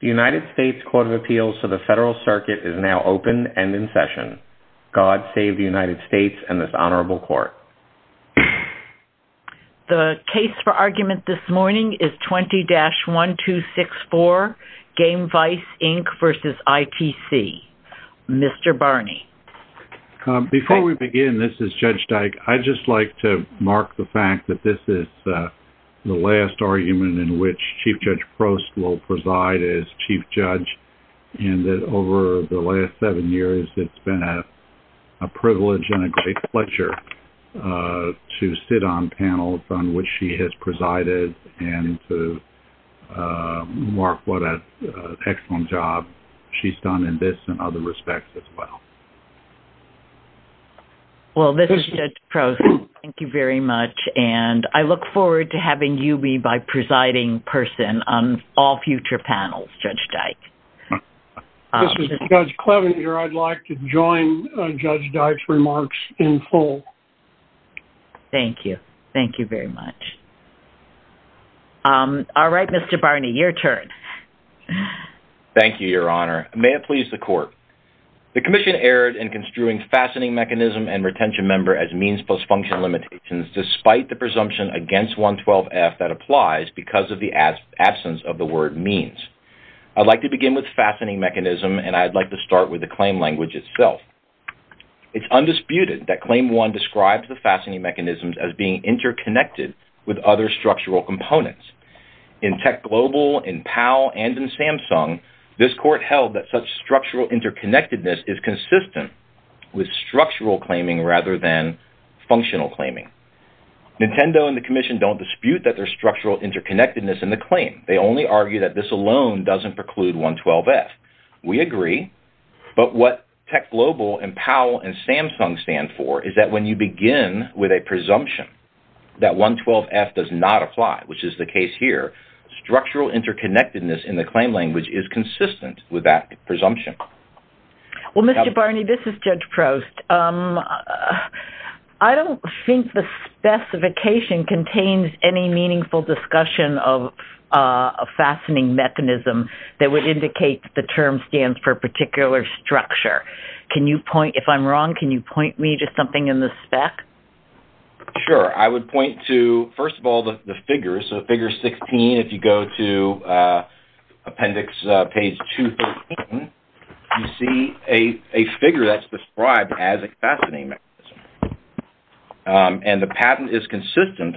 The United States Court of Appeals to the Federal Circuit is now open and in session. God save the United States and this Honorable Court. The case for argument this morning is 20-1264, Gamevice, Inc. v. ITC. Mr. Barney. Before we begin, this is Judge Dyke. I'd just like to mark the fact that this is the last argument in which Chief Judge Prost will preside as Chief Judge and that over the last seven years it's been a privilege and a great pleasure to sit on panels on which she has presided and to mark what an excellent job she's done in this and other respects as well. Well, this is Judge Prost. Thank you very much and I look forward to having you be my presiding person on all future panels, Judge Dyke. This is Judge Cleavenger. I'd like to join Judge Dyke's remarks in full. Thank you. Thank you very much. All right, Mr. Barney, your turn. The Commission erred in construing fastening mechanism and retention member as means plus function limitations despite the presumption against 112F that applies because of the absence of the word means. I'd like to begin with fastening mechanism and I'd like to start with the claim language itself. It's undisputed that Claim 1 describes the fastening mechanisms as being interconnected with other structural components. In TechGlobal, in PAL, and in Samsung, this court held that such structural interconnectedness is consistent with structural claiming rather than functional claiming. Nintendo and the Commission don't dispute that there's structural interconnectedness in the claim. They only argue that this alone doesn't preclude 112F. We agree, but what TechGlobal and PAL and Samsung stand for is that when you begin with a presumption that 112F does not apply, which is the case here, structural interconnectedness in the claim language is consistent with that presumption. Well, Mr. Barney, this is Judge Prost. I don't think the specification contains any meaningful discussion of a fastening mechanism that would indicate that the term stands for a particular structure. If I'm wrong, can you point me to something in the spec? Sure. I would point to, first of all, the figures. Figure 16, if you go to appendix page 213, you see a figure that's described as a fastening mechanism. The patent is consistent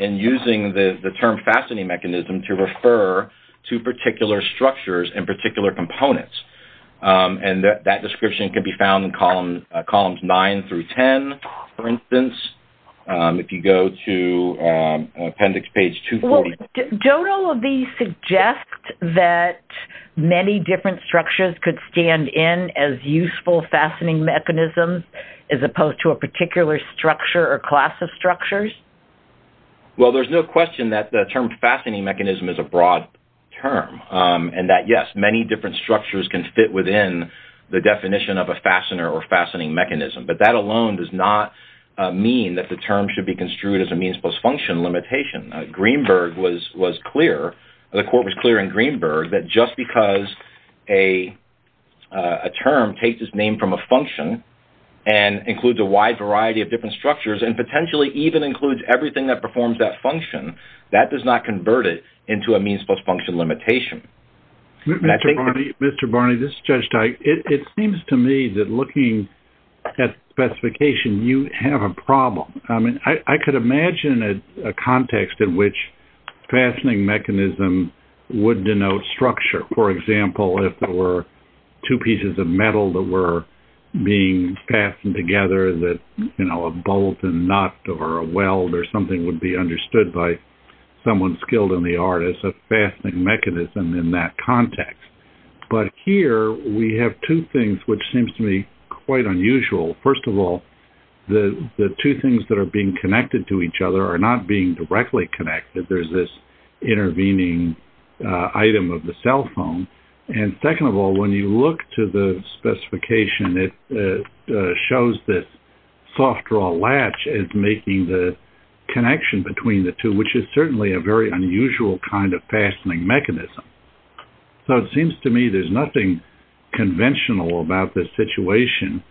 in using the term fastening mechanism to refer to particular structures and particular components. That description can be found in columns 9 through 10, for instance, if you go to appendix page 240. Don't all of these suggest that many different structures could stand in as useful fastening mechanisms as opposed to a particular structure or class of structures? Well, there's no question that the term fastening mechanism is a broad term and that, yes, many different structures can fit within the definition of a fastener or fastening mechanism, but that alone does not mean that the term should be construed as a means-plus-function limitation. Greenberg was clear, the court was clear in Greenberg, that just because a term takes its name from a function and includes a wide variety of different structures and potentially even includes everything that performs that function, that does not convert it into a means-plus-function limitation. Mr. Barney, this is Judge Teich. It seems to me that looking at specification, you have a problem. I mean, I could imagine a context in which fastening mechanism would denote structure. For example, if there were two pieces of metal that were being fastened together, that, you know, a bolt and nut or a weld or something would be understood by someone skilled in the art as a fastening mechanism in that context. But here we have two things which seems to me quite unusual. First of all, the two things that are being connected to each other are not being directly connected. There's this intervening item of the cell phone. And second of all, when you look to the specification, it shows this soft draw latch as making the connection between the two, which is certainly a very unusual kind of fastening mechanism. So it seems to me there's nothing conventional about this situation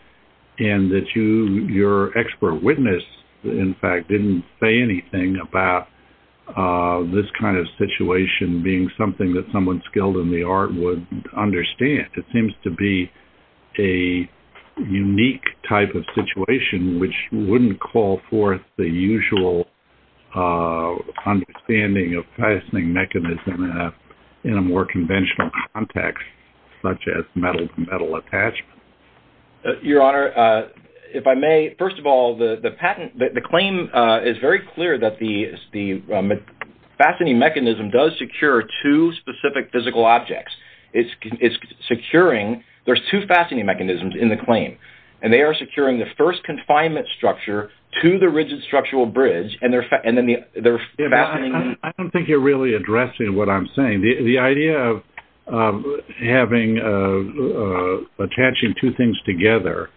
and that your expert witness, in fact, didn't say anything about this kind of situation being something that someone skilled in the art would understand. It seems to be a unique type of situation which wouldn't call forth the usual understanding of fastening mechanism in a more conventional context such as metal-to-metal attachment. Your Honor, if I may, first of all, the patent, the claim is very clear that the fastening mechanism does secure two specific physical objects. It's securing, there's two fastening mechanisms in the claim. And they are securing the first confinement structure to the rigid structural bridge and then the fastening. I don't think you're really addressing what I'm saying. The idea of attaching two things together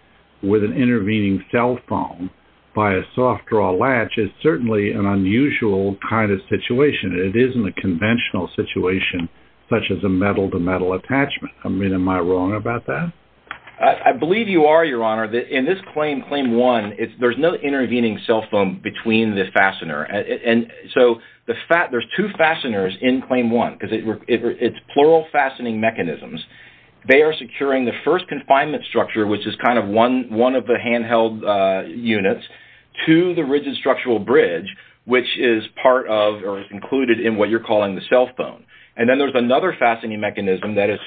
with an intervening cell phone by a soft draw latch is certainly an unusual kind of situation. It isn't a conventional situation such as a metal-to-metal attachment. I mean, am I wrong about that? I believe you are, Your Honor. In this claim, claim one, there's no intervening cell phone between the fastener. And so there's two fasteners in claim one because it's plural fastening mechanisms. They are securing the first confinement structure which is kind of one of the handheld units to the rigid structural bridge which is part of or included in what you're calling the cell phone. And then there's another fastening mechanism that is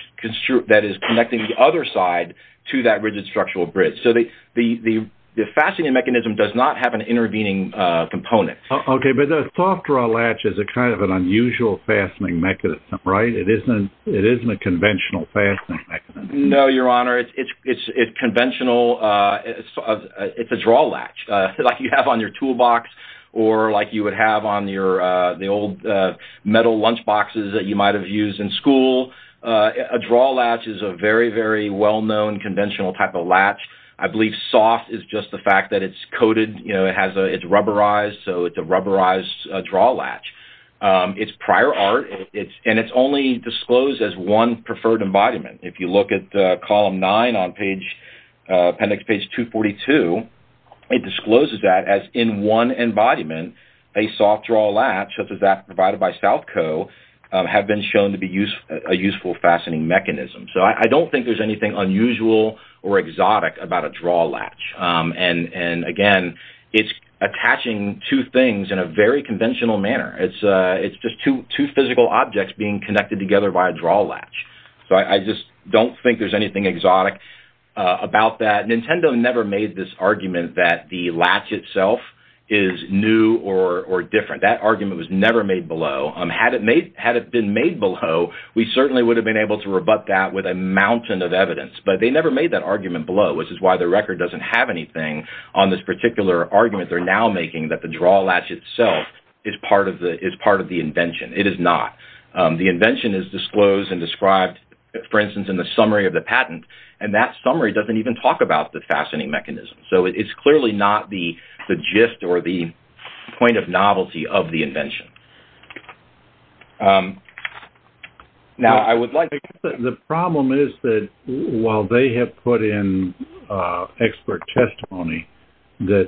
connecting the other side to that rigid structural bridge. So the fastening mechanism does not have an intervening component. Okay. But the soft draw latch is a kind of an unusual fastening mechanism, right? It isn't a conventional fastening mechanism. No, Your Honor. It's conventional. It's a draw latch like you have on your toolbox or like you would have on the old metal lunchboxes that you might have used in school. A draw latch is a very, very well-known conventional type of latch. I believe soft is just the fact that it's coated. You know, it's rubberized, so it's a rubberized draw latch. It's prior art, and it's only disclosed as one preferred embodiment. If you look at Column 9 on appendix page 242, it discloses that as in one embodiment, a soft draw latch such as that provided by SouthCo have been shown to be a useful fastening mechanism. So I don't think there's anything unusual or exotic about a draw latch. And, again, it's attaching two things in a very conventional manner. It's just two physical objects being connected together by a draw latch. So I just don't think there's anything exotic about that. Nintendo never made this argument that the latch itself is new or different. That argument was never made below. Had it been made below, we certainly would have been able to rebut that with a mountain of evidence. But they never made that argument below, which is why the record doesn't have anything on this particular argument they're now making that the draw latch itself is part of the invention. It is not. The invention is disclosed and described, for instance, in the summary of the patent, and that summary doesn't even talk about the fastening mechanism. So it's clearly not the gist or the point of novelty of the invention. Now, I would like to... The problem is that while they have put in expert testimony that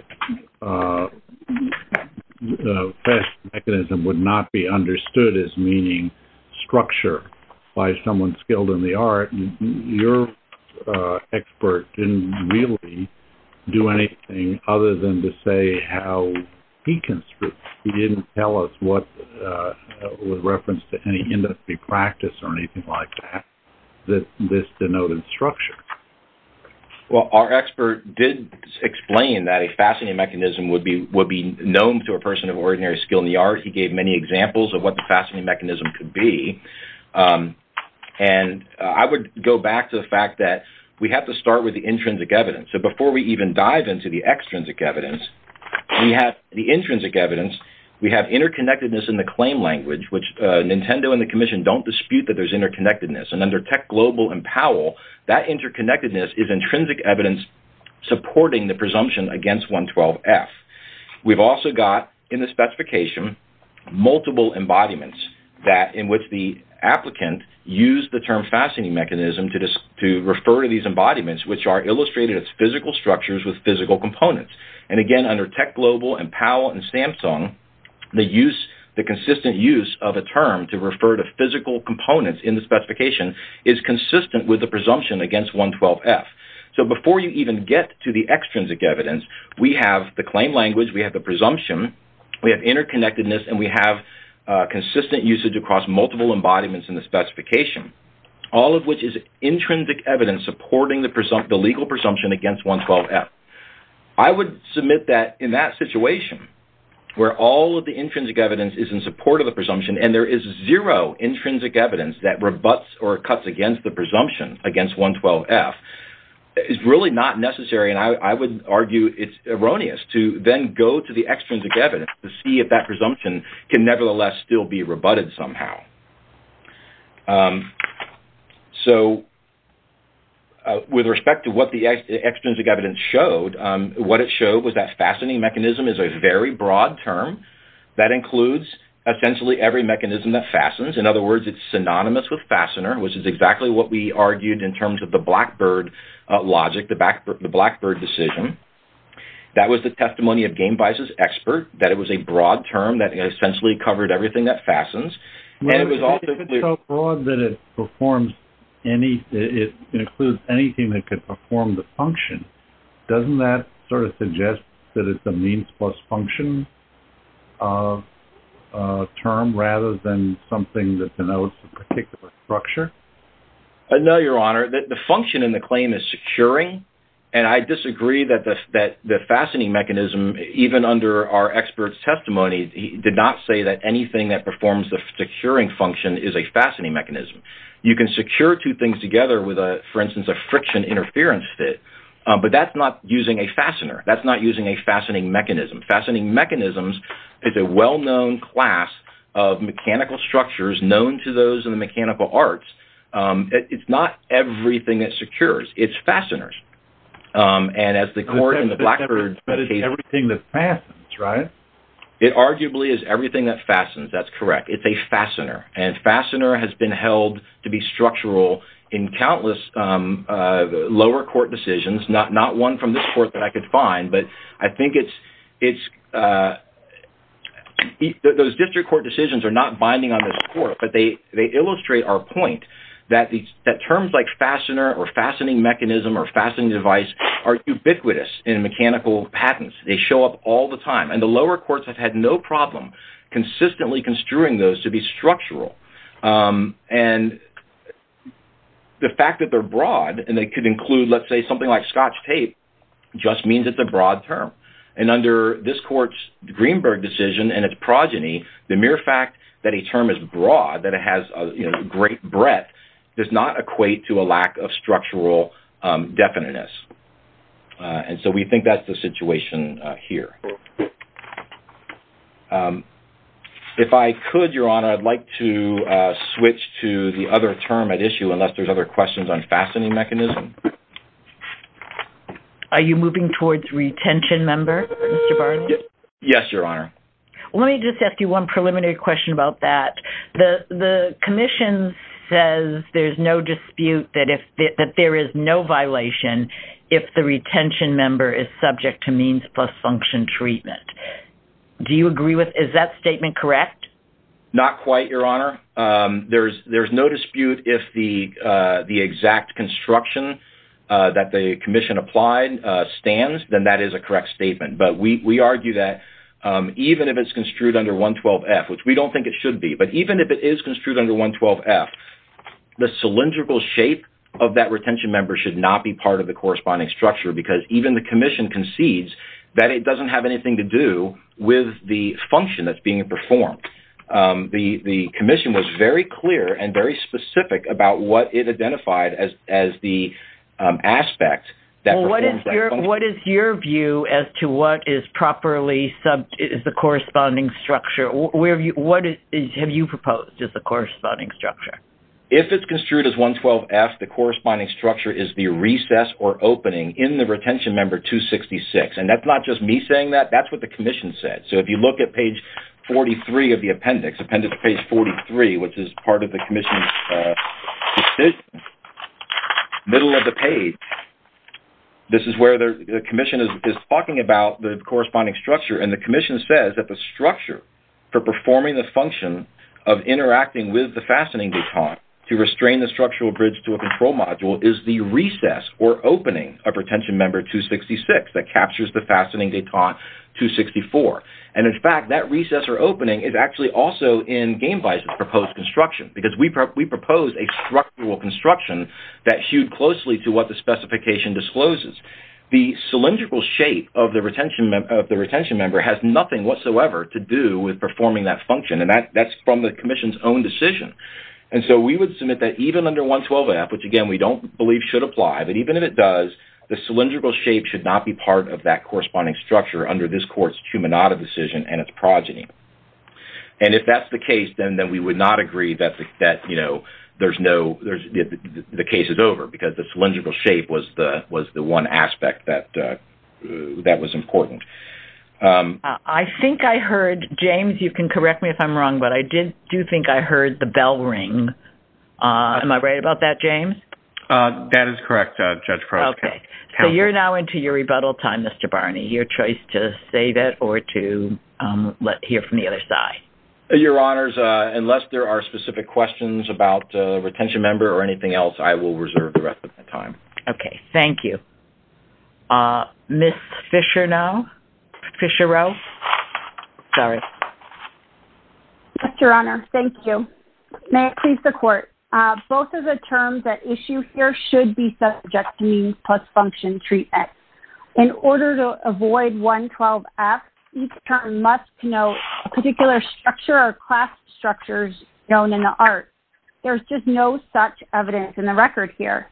the fastening mechanism would not be understood as meaning structure by someone skilled in the art, your expert didn't really do anything other than to say how he construed it. He didn't tell us what was referenced to any industry practice or anything like that, that this denoted structure. Well, our expert did explain that a fastening mechanism would be known to a person of ordinary skill in the art. He gave many examples of what the fastening mechanism could be. And I would go back to the fact that we have to start with the intrinsic evidence. So before we even dive into the extrinsic evidence, we have the intrinsic evidence. We have interconnectedness in the claim language, which Nintendo and the Commission don't dispute that there's interconnectedness. And under Tech Global and Powell, that interconnectedness is intrinsic evidence supporting the presumption against 112F. We've also got in the specification multiple embodiments in which the applicant used the term fastening mechanism to refer to these embodiments, which are illustrated as physical structures with physical components. And again, under Tech Global and Powell and Samsung, the consistent use of a term to refer to physical components in the specification is consistent with the presumption against 112F. So before you even get to the extrinsic evidence, we have the claim language, we have the presumption, we have interconnectedness, and we have consistent usage across multiple embodiments in the specification, all of which is intrinsic evidence supporting the legal presumption against 112F. I would submit that in that situation, where all of the intrinsic evidence is in support of the presumption and there is zero intrinsic evidence that rebutts or cuts against the presumption against 112F, it's really not necessary, and I would argue it's erroneous, to then go to the extrinsic evidence to see if that presumption can nevertheless still be rebutted somehow. So with respect to what the extrinsic evidence showed, what it showed was that fastening mechanism is a very broad term that includes essentially every mechanism that fastens. In other words, it's synonymous with fastener, which is exactly what we argued in terms of the Blackbird logic, the Blackbird decision. That was the testimony of Gamevice's expert, that it was a broad term that essentially covered everything that fastens. It's so broad that it includes anything that could perform the function. Doesn't that sort of suggest that it's a means plus function term rather than something that denotes a particular structure? No, Your Honor. The function in the claim is securing, and I disagree that the fastening mechanism, even under our expert's testimony, did not say that anything that performs the securing function is a fastening mechanism. You can secure two things together with, for instance, a friction interference fit, but that's not using a fastener. That's not using a fastening mechanism. Fastening mechanisms is a well-known class of mechanical structures known to those in the mechanical arts. It's not everything it secures. It's fasteners. And as the court in the Blackbird case… But it's everything that fastens, right? It arguably is everything that fastens. That's correct. It's a fastener, and fastener has been held to be structural in countless lower court decisions, not one from this court that I could find, but I think those district court decisions are not binding on this court, but they illustrate our point that terms like fastener or fastening mechanism or fastening device are ubiquitous in mechanical patents. They show up all the time. And the lower courts have had no problem consistently construing those to be structural. And the fact that they're broad and they could include, let's say, something like scotch tape, just means it's a broad term. And under this court's Greenberg decision and its progeny, the mere fact that a term is broad, that it has great breadth, does not equate to a lack of structural definiteness. And so we think that's the situation here. If I could, Your Honor, I'd like to switch to the other term at issue, unless there's other questions on fastening mechanism. Are you moving towards retention, Mr. Barnes? Yes, Your Honor. Let me just ask you one preliminary question about that. The commission says there's no dispute that there is no violation if the retention member is subject to means plus function treatment. Do you agree with that? Is that statement correct? Not quite, Your Honor. There's no dispute if the exact construction that the commission applied stands, then that is a correct statement. But we argue that even if it's construed under 112F, which we don't think it should be, but even if it is construed under 112F, the cylindrical shape of that retention member should not be part of the corresponding structure because even the commission concedes that it doesn't have anything to do with the function that's being performed. The commission was very clear and very specific about what it identified as the aspect that performs that function. What is your view as to what is properly the corresponding structure? What have you proposed as the corresponding structure? If it's construed as 112F, the corresponding structure is the recess or opening in the retention member 266, and that's not just me saying that. That's what the commission said. So if you look at page 43 of the appendix, appendix page 43, which is part of the commission's decision, middle of the page, this is where the commission is talking about the corresponding structure, and the commission says that the structure for performing the function of interacting with the fastening detent to restrain the structural bridge to a control module is the recess or opening of retention member 266 that captures the fastening detent 264. And in fact, that recess or opening is actually also in Gamevice's proposed construction because we proposed a structural construction that hewed closely to what the specification discloses. The cylindrical shape of the retention member has nothing whatsoever to do with performing that function, and that's from the commission's own decision. And so we would submit that even under 112F, which again, we don't believe should apply, but even if it does, the cylindrical shape should not be part of that corresponding structure under this court's cumulative decision and its progeny. And if that's the case, then we would not agree that the case is over because the cylindrical shape was the one aspect that was important. I think I heard, James, you can correct me if I'm wrong, but I do think I heard the bell ring. Am I right about that, James? That is correct, Judge Cross. Okay. So you're now into your rebuttal time, Mr. Barney, your choice to say that or to hear from the other side. Your Honors, unless there are specific questions about a retention member or anything else, I will reserve the rest of my time. Okay. Thank you. Ms. Fischer now, Fischer-Rowe. Sorry. Yes, Your Honor. Thank you. May it please the court. Both of the terms at issue here should be subject to means plus function treatment. In order to avoid 112F, each term must denote a particular structure or class structures known in the art. There's just no such evidence in the record here.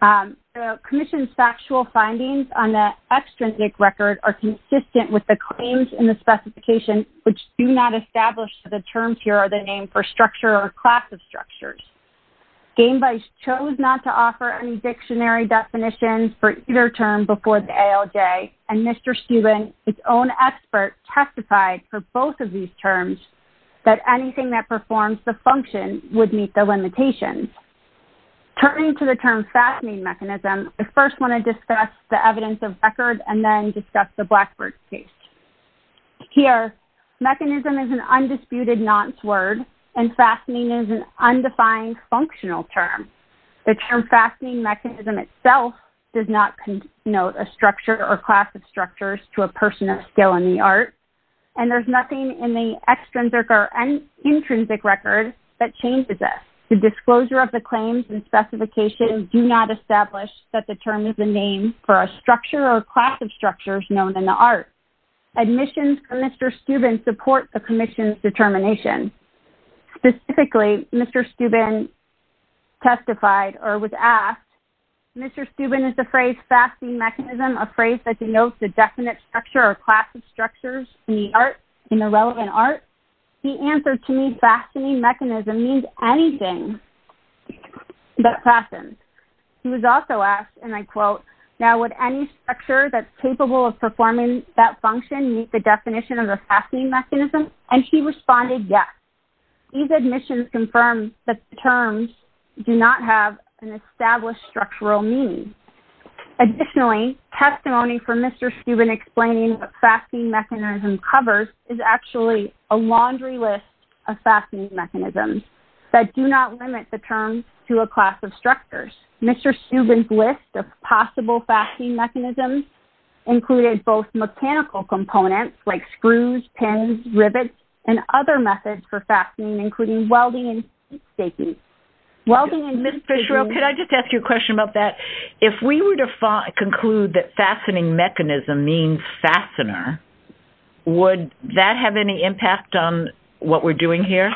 The commission's factual findings on the extrinsic record are consistent with the claims in the specification, which do not establish the terms here are the name for structure or class of structures. Game vice chose not to offer any dictionary definitions for either term before the ALJ. And Mr. Steuben, his own expert testified for both of these terms that anything that is subject to means plus function would meet the limitations. Turning to the term fastening mechanism. I first want to discuss the evidence of record and then discuss the Blackbird case here. Mechanism is an undisputed non-sword and fastening is an undefined functional term. The term fastening mechanism itself does not note a structure or class of structures to a person of skill in the art. And there's nothing in the extrinsic or intrinsic record that changes this. The disclosure of the claims and specifications do not establish that the term is the name for a structure or class of structures known in the art admissions. Mr. Steuben support the commission's determination. Typically Mr. Steuben testified or was asked. Mr. Steuben is the phrase fasting mechanism, a phrase that denotes the definite structure or class of structures in the art, in the relevant art. He answered to me, fastening mechanism means anything that fastens. He was also asked, and I quote, now would any structure that's capable of performing that function meet the definition of a fastening mechanism? And she responded, yes. These admissions confirm that the terms do not have an established structural meaning. Additionally, testimony for Mr. Steuben explaining what fasting mechanism covers is actually a laundry list of fastening mechanisms that do not limit the terms to a class of structures. Mr. Steuben's list of possible fasting mechanisms included both mechanical components like screws, pins, rivets, and other methods for fastening, including welding. Ms. Fitzgerald, could I just ask you a question about that? If we were to conclude that fastening mechanism means fastener, would that have any impact on what we're doing here?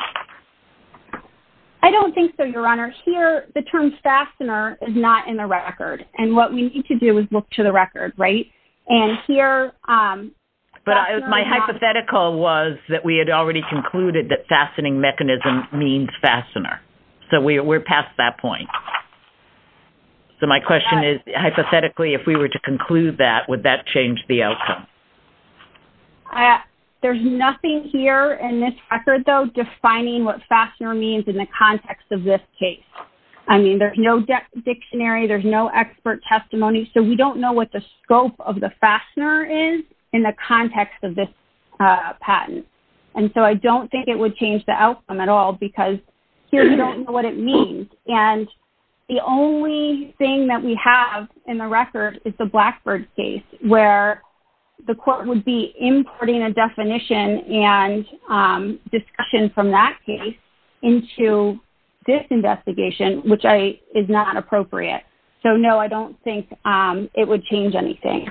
I don't think so. Your honor here, the terms fastener is not in the record and what we need to do is look to the record. Right. And here, but my hypothetical was that we had already concluded that fastening mechanism means fastener. So we're past that point. So my question is, hypothetically, if we were to conclude that, would that change the outcome? There's nothing here in this record, though, defining what fastener means in the context of this case. I mean, there's no depth dictionary. There's no expert testimony. So we don't know what the scope of the fastener is in the context of this patent. And so I don't think it would change the outcome at all because here, you don't know what it means. And the only thing that we have in the record is the Blackbird case where the court would be importing a definition and discussion from that case into this investigation, which I is not appropriate. So, I don't think it would change anything.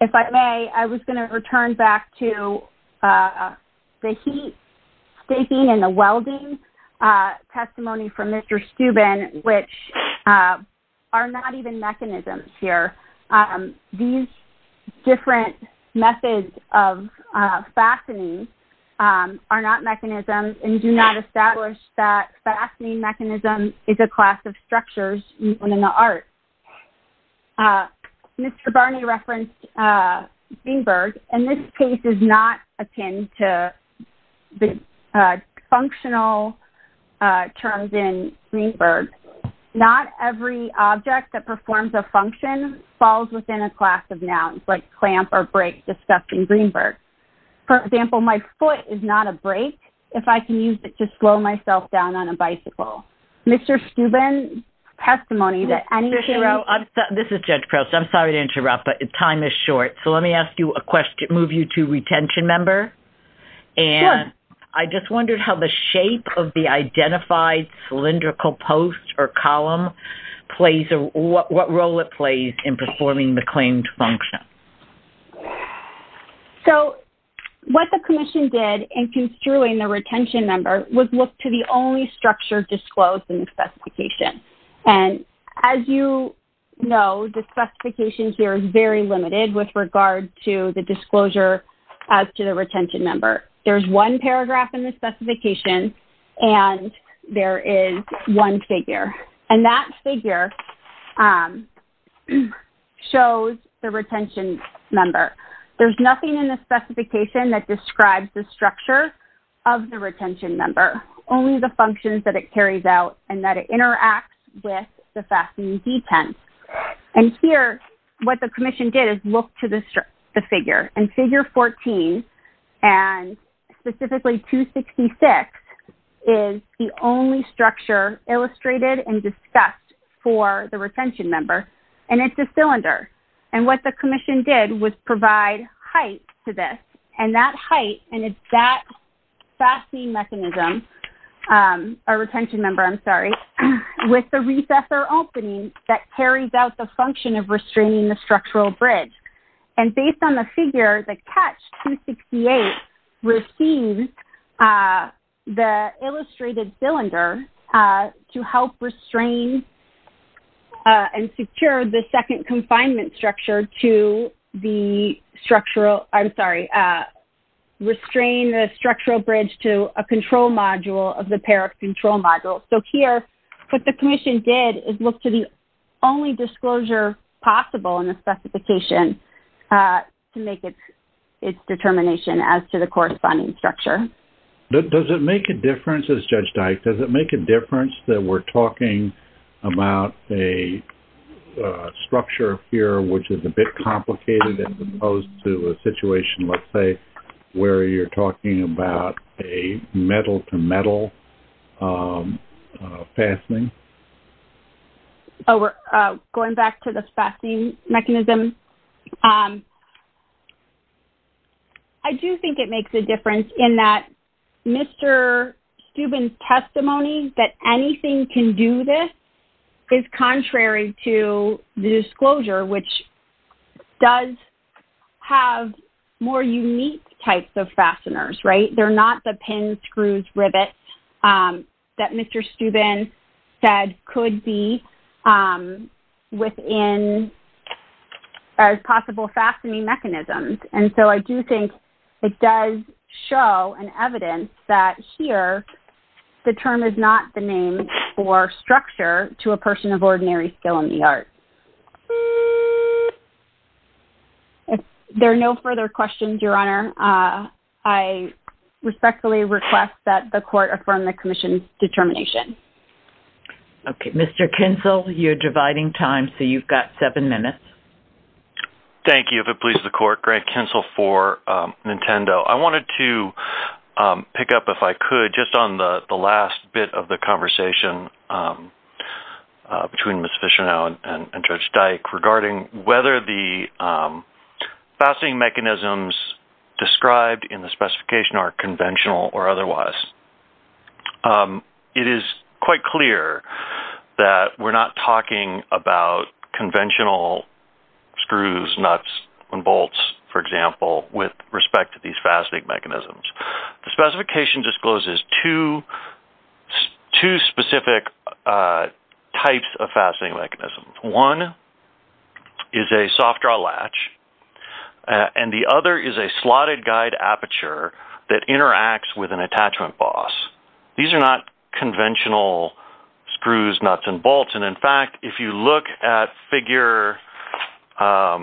If I may, I was going to return back to the heat staking and the welding testimony from Mr. Steuben, which are not even mechanisms here. These different methods of fastening are not mechanisms and do not establish that fastening mechanism is a class of structures in the art. Mr. Barney referenced Greenberg, and this case is not a pin to the functional terms in Greenberg. Not every object that performs a function falls within a class of nouns like clamp or break discussed in Greenberg. For example, my foot is not a break. If I can use it to slow myself down on a bicycle, Mr. Steuben testimony that any. This is judge process. I'm sorry to interrupt, but time is short. So let me ask you a question, move you to retention member. And I just wondered how the shape of the identified cylindrical post or column plays or what role it plays in performing the claimed function. So what the commission did in construing the retention number was look to the only structure disclosed in the specification. And as you know, the specifications here is very limited with regard to the disclosure as to the retention number. There's one paragraph in the specification and there is one figure and that figure shows the retention number. There's nothing in the specification that describes the structure of the retention number. Only the functions that it carries out and that it interacts with the fastening detent. And here, what the commission did is look to this, the figure and figure 14 and specifically two 66 is the only structure illustrated and discussed for the retention number. And it's a cylinder. And what the commission did was provide height to this and that height. And it's that fastening mechanism or retention number. I'm sorry. With the recess or opening that carries out the function of restraining the structural bridge. And based on the figure, the catch two 68 received the illustrated cylinder to help restrain and secure the second confinement structure to the structural. I'm sorry. Restrain the structural bridge to a control module of the pair of control modules. So here what the commission did is look to the only disclosure possible in the specification to make it its determination as to the corresponding structure. Does it make a difference as judge Dyke, does it make a difference that we're talking about a structure here, which is a bit complicated as opposed to a situation, let's say where you're talking about a metal to metal fastening. Oh, we're going back to the fastening mechanism. I do think it makes a difference in that Mr. Steuben testimony that anything can do this is contrary to the disclosure, which does have more unique types of fasteners, right? They're not the pins, screws, rivets that Mr. Steuben said could be within as possible fastening mechanisms. And so I do think it does show an evidence that here the term is not the name for structure to a person of ordinary skill in the art. If there are no further questions, your honor I respectfully request that the court affirm the commission's determination. Okay. Mr. Kinsel, you're dividing time. So you've got seven minutes. Thank you. If it pleases the court grant Kinsel for Nintendo, I wanted to pick up if I could just on the last bit of the conversation between Ms. Mishano and judge Dyke regarding whether the fastening mechanisms described in the specification are conventional or otherwise. It is quite clear that we're not talking about conventional screws, nuts and bolts, for example, with respect to these fastening mechanisms, the specification discloses to two specific types of fastening mechanisms. One is a soft draw latch. And the other is a slotted guide aperture that interacts with an attachment boss. These are not conventional screws, nuts and bolts. And in fact, if you look at figure, for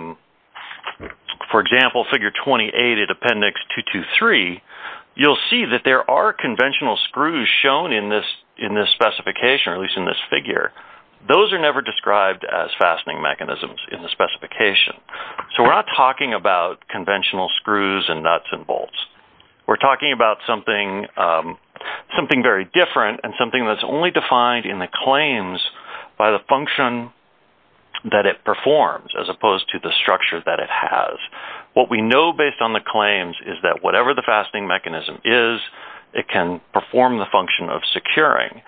example, figure 28 at appendix two to three, you'll see that there are conventional screws shown in this, in this specification, or at least in this figure, those are never described as fastening mechanisms in the specification. So we're not talking about conventional screws and nuts and bolts. We're talking about something, something very different and something that's only defined in the claims by the function that it performs, as opposed to the structure that it has. And what we know based on the claims is that whatever the fastening mechanism is, it can perform the function of securing.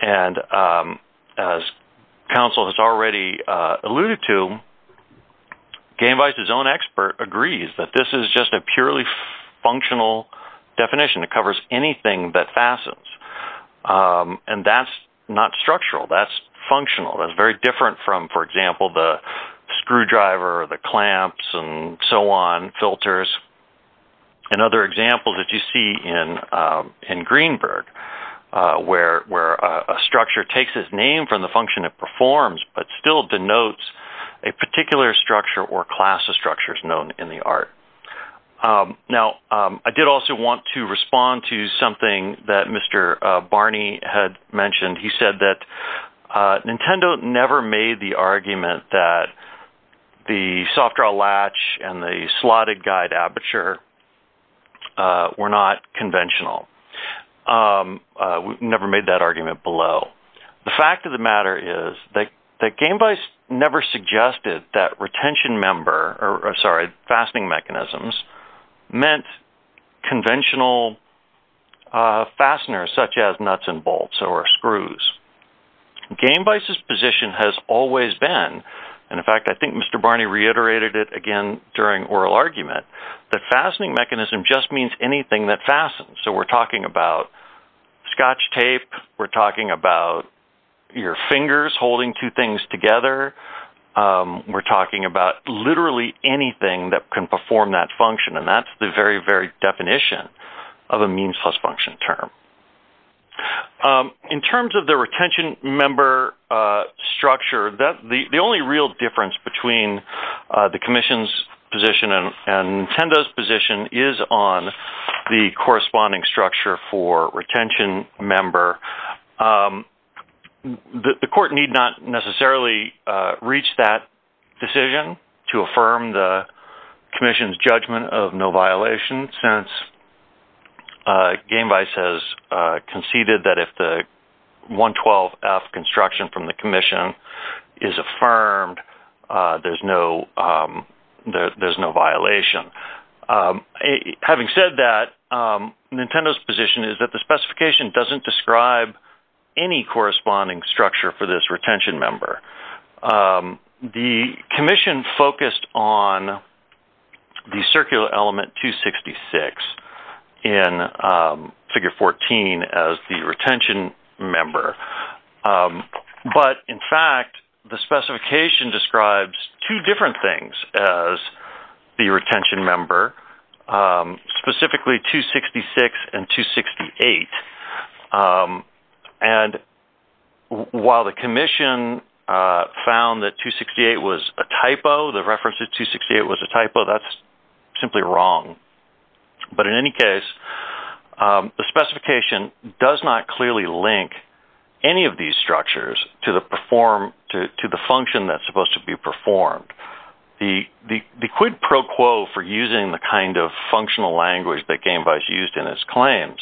And as council has already alluded to, Gainvise, his own expert agrees that this is just a purely functional definition that covers anything that fastens. And that's not structural. That's functional. That's very different from, for example, the screwdriver, the clamps and so on filters. And other examples that you see in, in Greenberg where, where a structure takes his name from the function of performs, but still denotes a particular structure or class of structures known in the art. Now I did also want to respond to something that Mr. Barney had mentioned. He said that Nintendo never made the argument that the soft draw latch and the slotted guide aperture were not conventional. We've never made that argument below. The fact of the matter is that Gainvise never suggested that retention member, or sorry, fastening mechanisms meant conventional fasteners, such as nuts and bolts or screws. Gainvise's position has always been. And in fact, I think Mr. Barney reiterated it again during oral argument, that fastening mechanism just means anything that fastened. So we're talking about scotch tape. We're talking about your fingers, holding two things together. We're talking about literally anything that can perform that function. And that's the very, very definition of a means plus function term. In terms of the retention member structure, the only real difference between the commission's position and Nintendo's position is on the corresponding structure for retention member. The court need not necessarily reach that decision to affirm the commission's judgment of no violation. Since Gainvise has conceded that if the 112 F construction from the commission is affirmed, there's no, there's no violation. Having said that Nintendo's position is that the specification doesn't describe any corresponding structure for this retention member. The commission focused on the circular element two 66 in figure 14 as the retention member. But in fact, the specification describes two different things as the retention member specifically two 66 and two 68. And while the commission, found that two 68 was a typo, the reference to two 68 was a typo that's simply wrong. But in any case, the specification does not clearly link any of these structures to the perform to, to the function that's supposed to be performed. The, the quid pro quo for using the kind of functional language that Gainvise used in his claims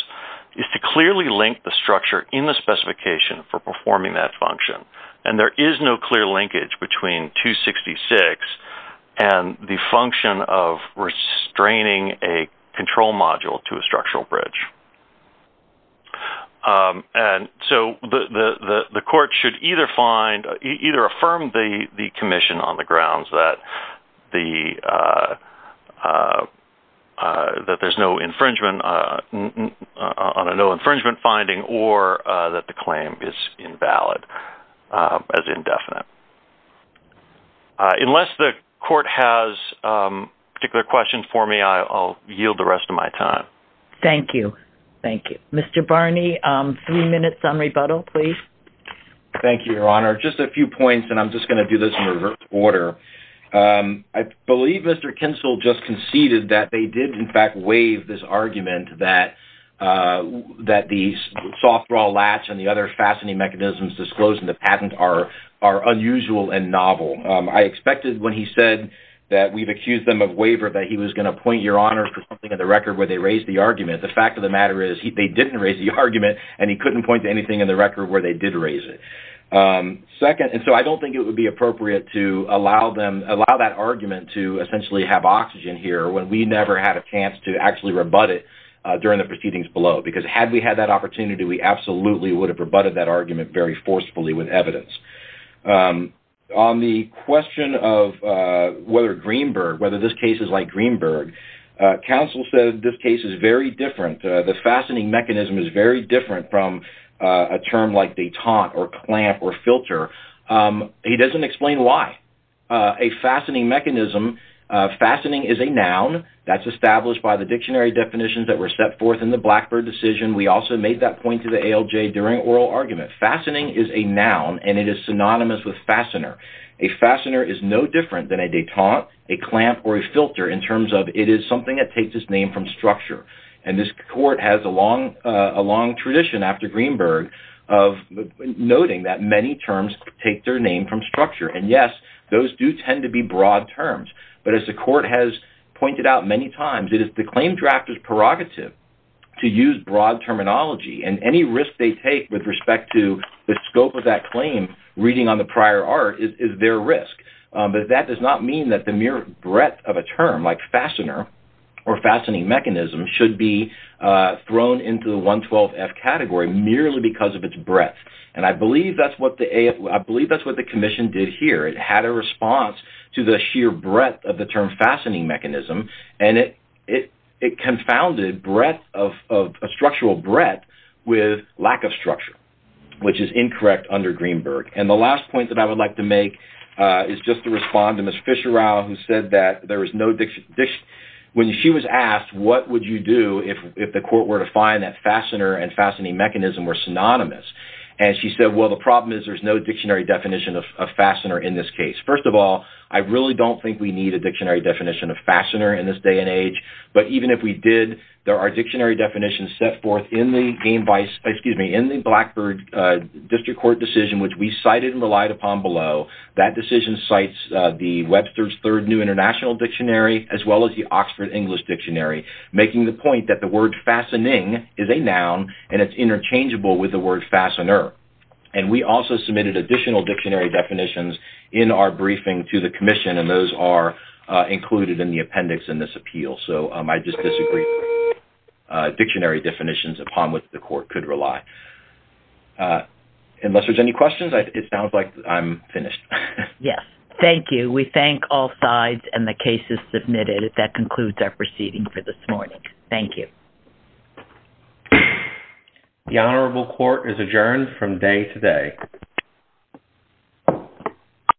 is to clearly link the structure in the structure to the function. And there is no clear linkage between two 66 and the function of restraining a control module to a structural bridge. And so the, the, the, the court should either find, either affirm the commission on the grounds that the that there's no infringement on a no or affirm the commission on the grounds that there's no infringement on a And so the commission should have the right to decide whether or not the control module is valid as indefinite. Unless the court has particular questions for me, I'll yield the rest of my time. Thank you. Thank you, Mr. Barney. Three minutes on rebuttal, please. Thank you, your honor, just a few points. And I'm just going to do this in reverse order. I believe Mr. Kinsel just conceded that they did in fact, waive this argument that that the softball latch and the other fastening mechanisms disclosed in the patent are, are unusual and novel. I expected when he said that we've accused them of waiver, that he was going to point your honor for something in the record where they raised the argument. The fact of the matter is he, they didn't raise the argument and he couldn't point to anything in the record where they did raise it second. And so I don't think it would be appropriate to allow them allow that argument to essentially have oxygen here when we never had a chance to actually rebut it during the proceedings below, because had we had that opportunity, we absolutely would have rebutted that argument very forcefully with evidence on the question of whether Greenberg, whether this case is like Greenberg council said, this case is very different. The fastening mechanism is very different from a term like they taunt or a clamp or filter. He doesn't explain why a fastening mechanism fastening is a noun that's established by the dictionary definitions that were set forth in the Blackbird decision. We also made that point to the ALJ during oral argument. Fastening is a noun and it is synonymous with fastener. A fastener is no different than a detente, a clamp or a filter in terms of it is something that takes its name from structure. And this court has a long, a long tradition after Greenberg of noting that many terms take their name from structure. And yes, those do tend to be broad terms, but as the court has pointed out many times, it is the claim drafters prerogative to use broad terminology and any risk they take with respect to the scope of that claim reading on the prior art is their risk. But that does not mean that the mere breadth of a term like fastener or detente is thrown into the one 12 F category merely because of its breadth. And I believe that's what the AF, I believe that's what the commission did here. It had a response to the sheer breadth of the term fastening mechanism and it, it, it confounded breadth of, of a structural breadth with lack of structure, which is incorrect under Greenberg. And the last point that I would like to make is just to respond to Ms. Fisher, Rao who said that there was no diction dish when she was asked, what would you do if, if the court were to find that fastener and fastening mechanism were synonymous? And she said, well, the problem is there's no dictionary definition of a fastener in this case. First of all, I really don't think we need a dictionary definition of fastener in this day and age, but even if we did, there are dictionary definitions set forth in the game vice, excuse me, in the Blackbird district court decision, which we cited and relied upon below that decision sites the Webster's third new international dictionary, as well as the Oxford English dictionary, making the point that the word fastening is a noun and it's interchangeable with the word fastener. And we also submitted additional dictionary definitions in our briefing to the commission. And those are included in the appendix in this appeal. So I just disagree dictionary definitions upon with the court could rely unless there's any questions. It sounds like I'm finished. Yes. Thank you. We thank all sides and the cases submitted that concludes our proceeding for this morning. Thank you. The honorable court is adjourned from day to day.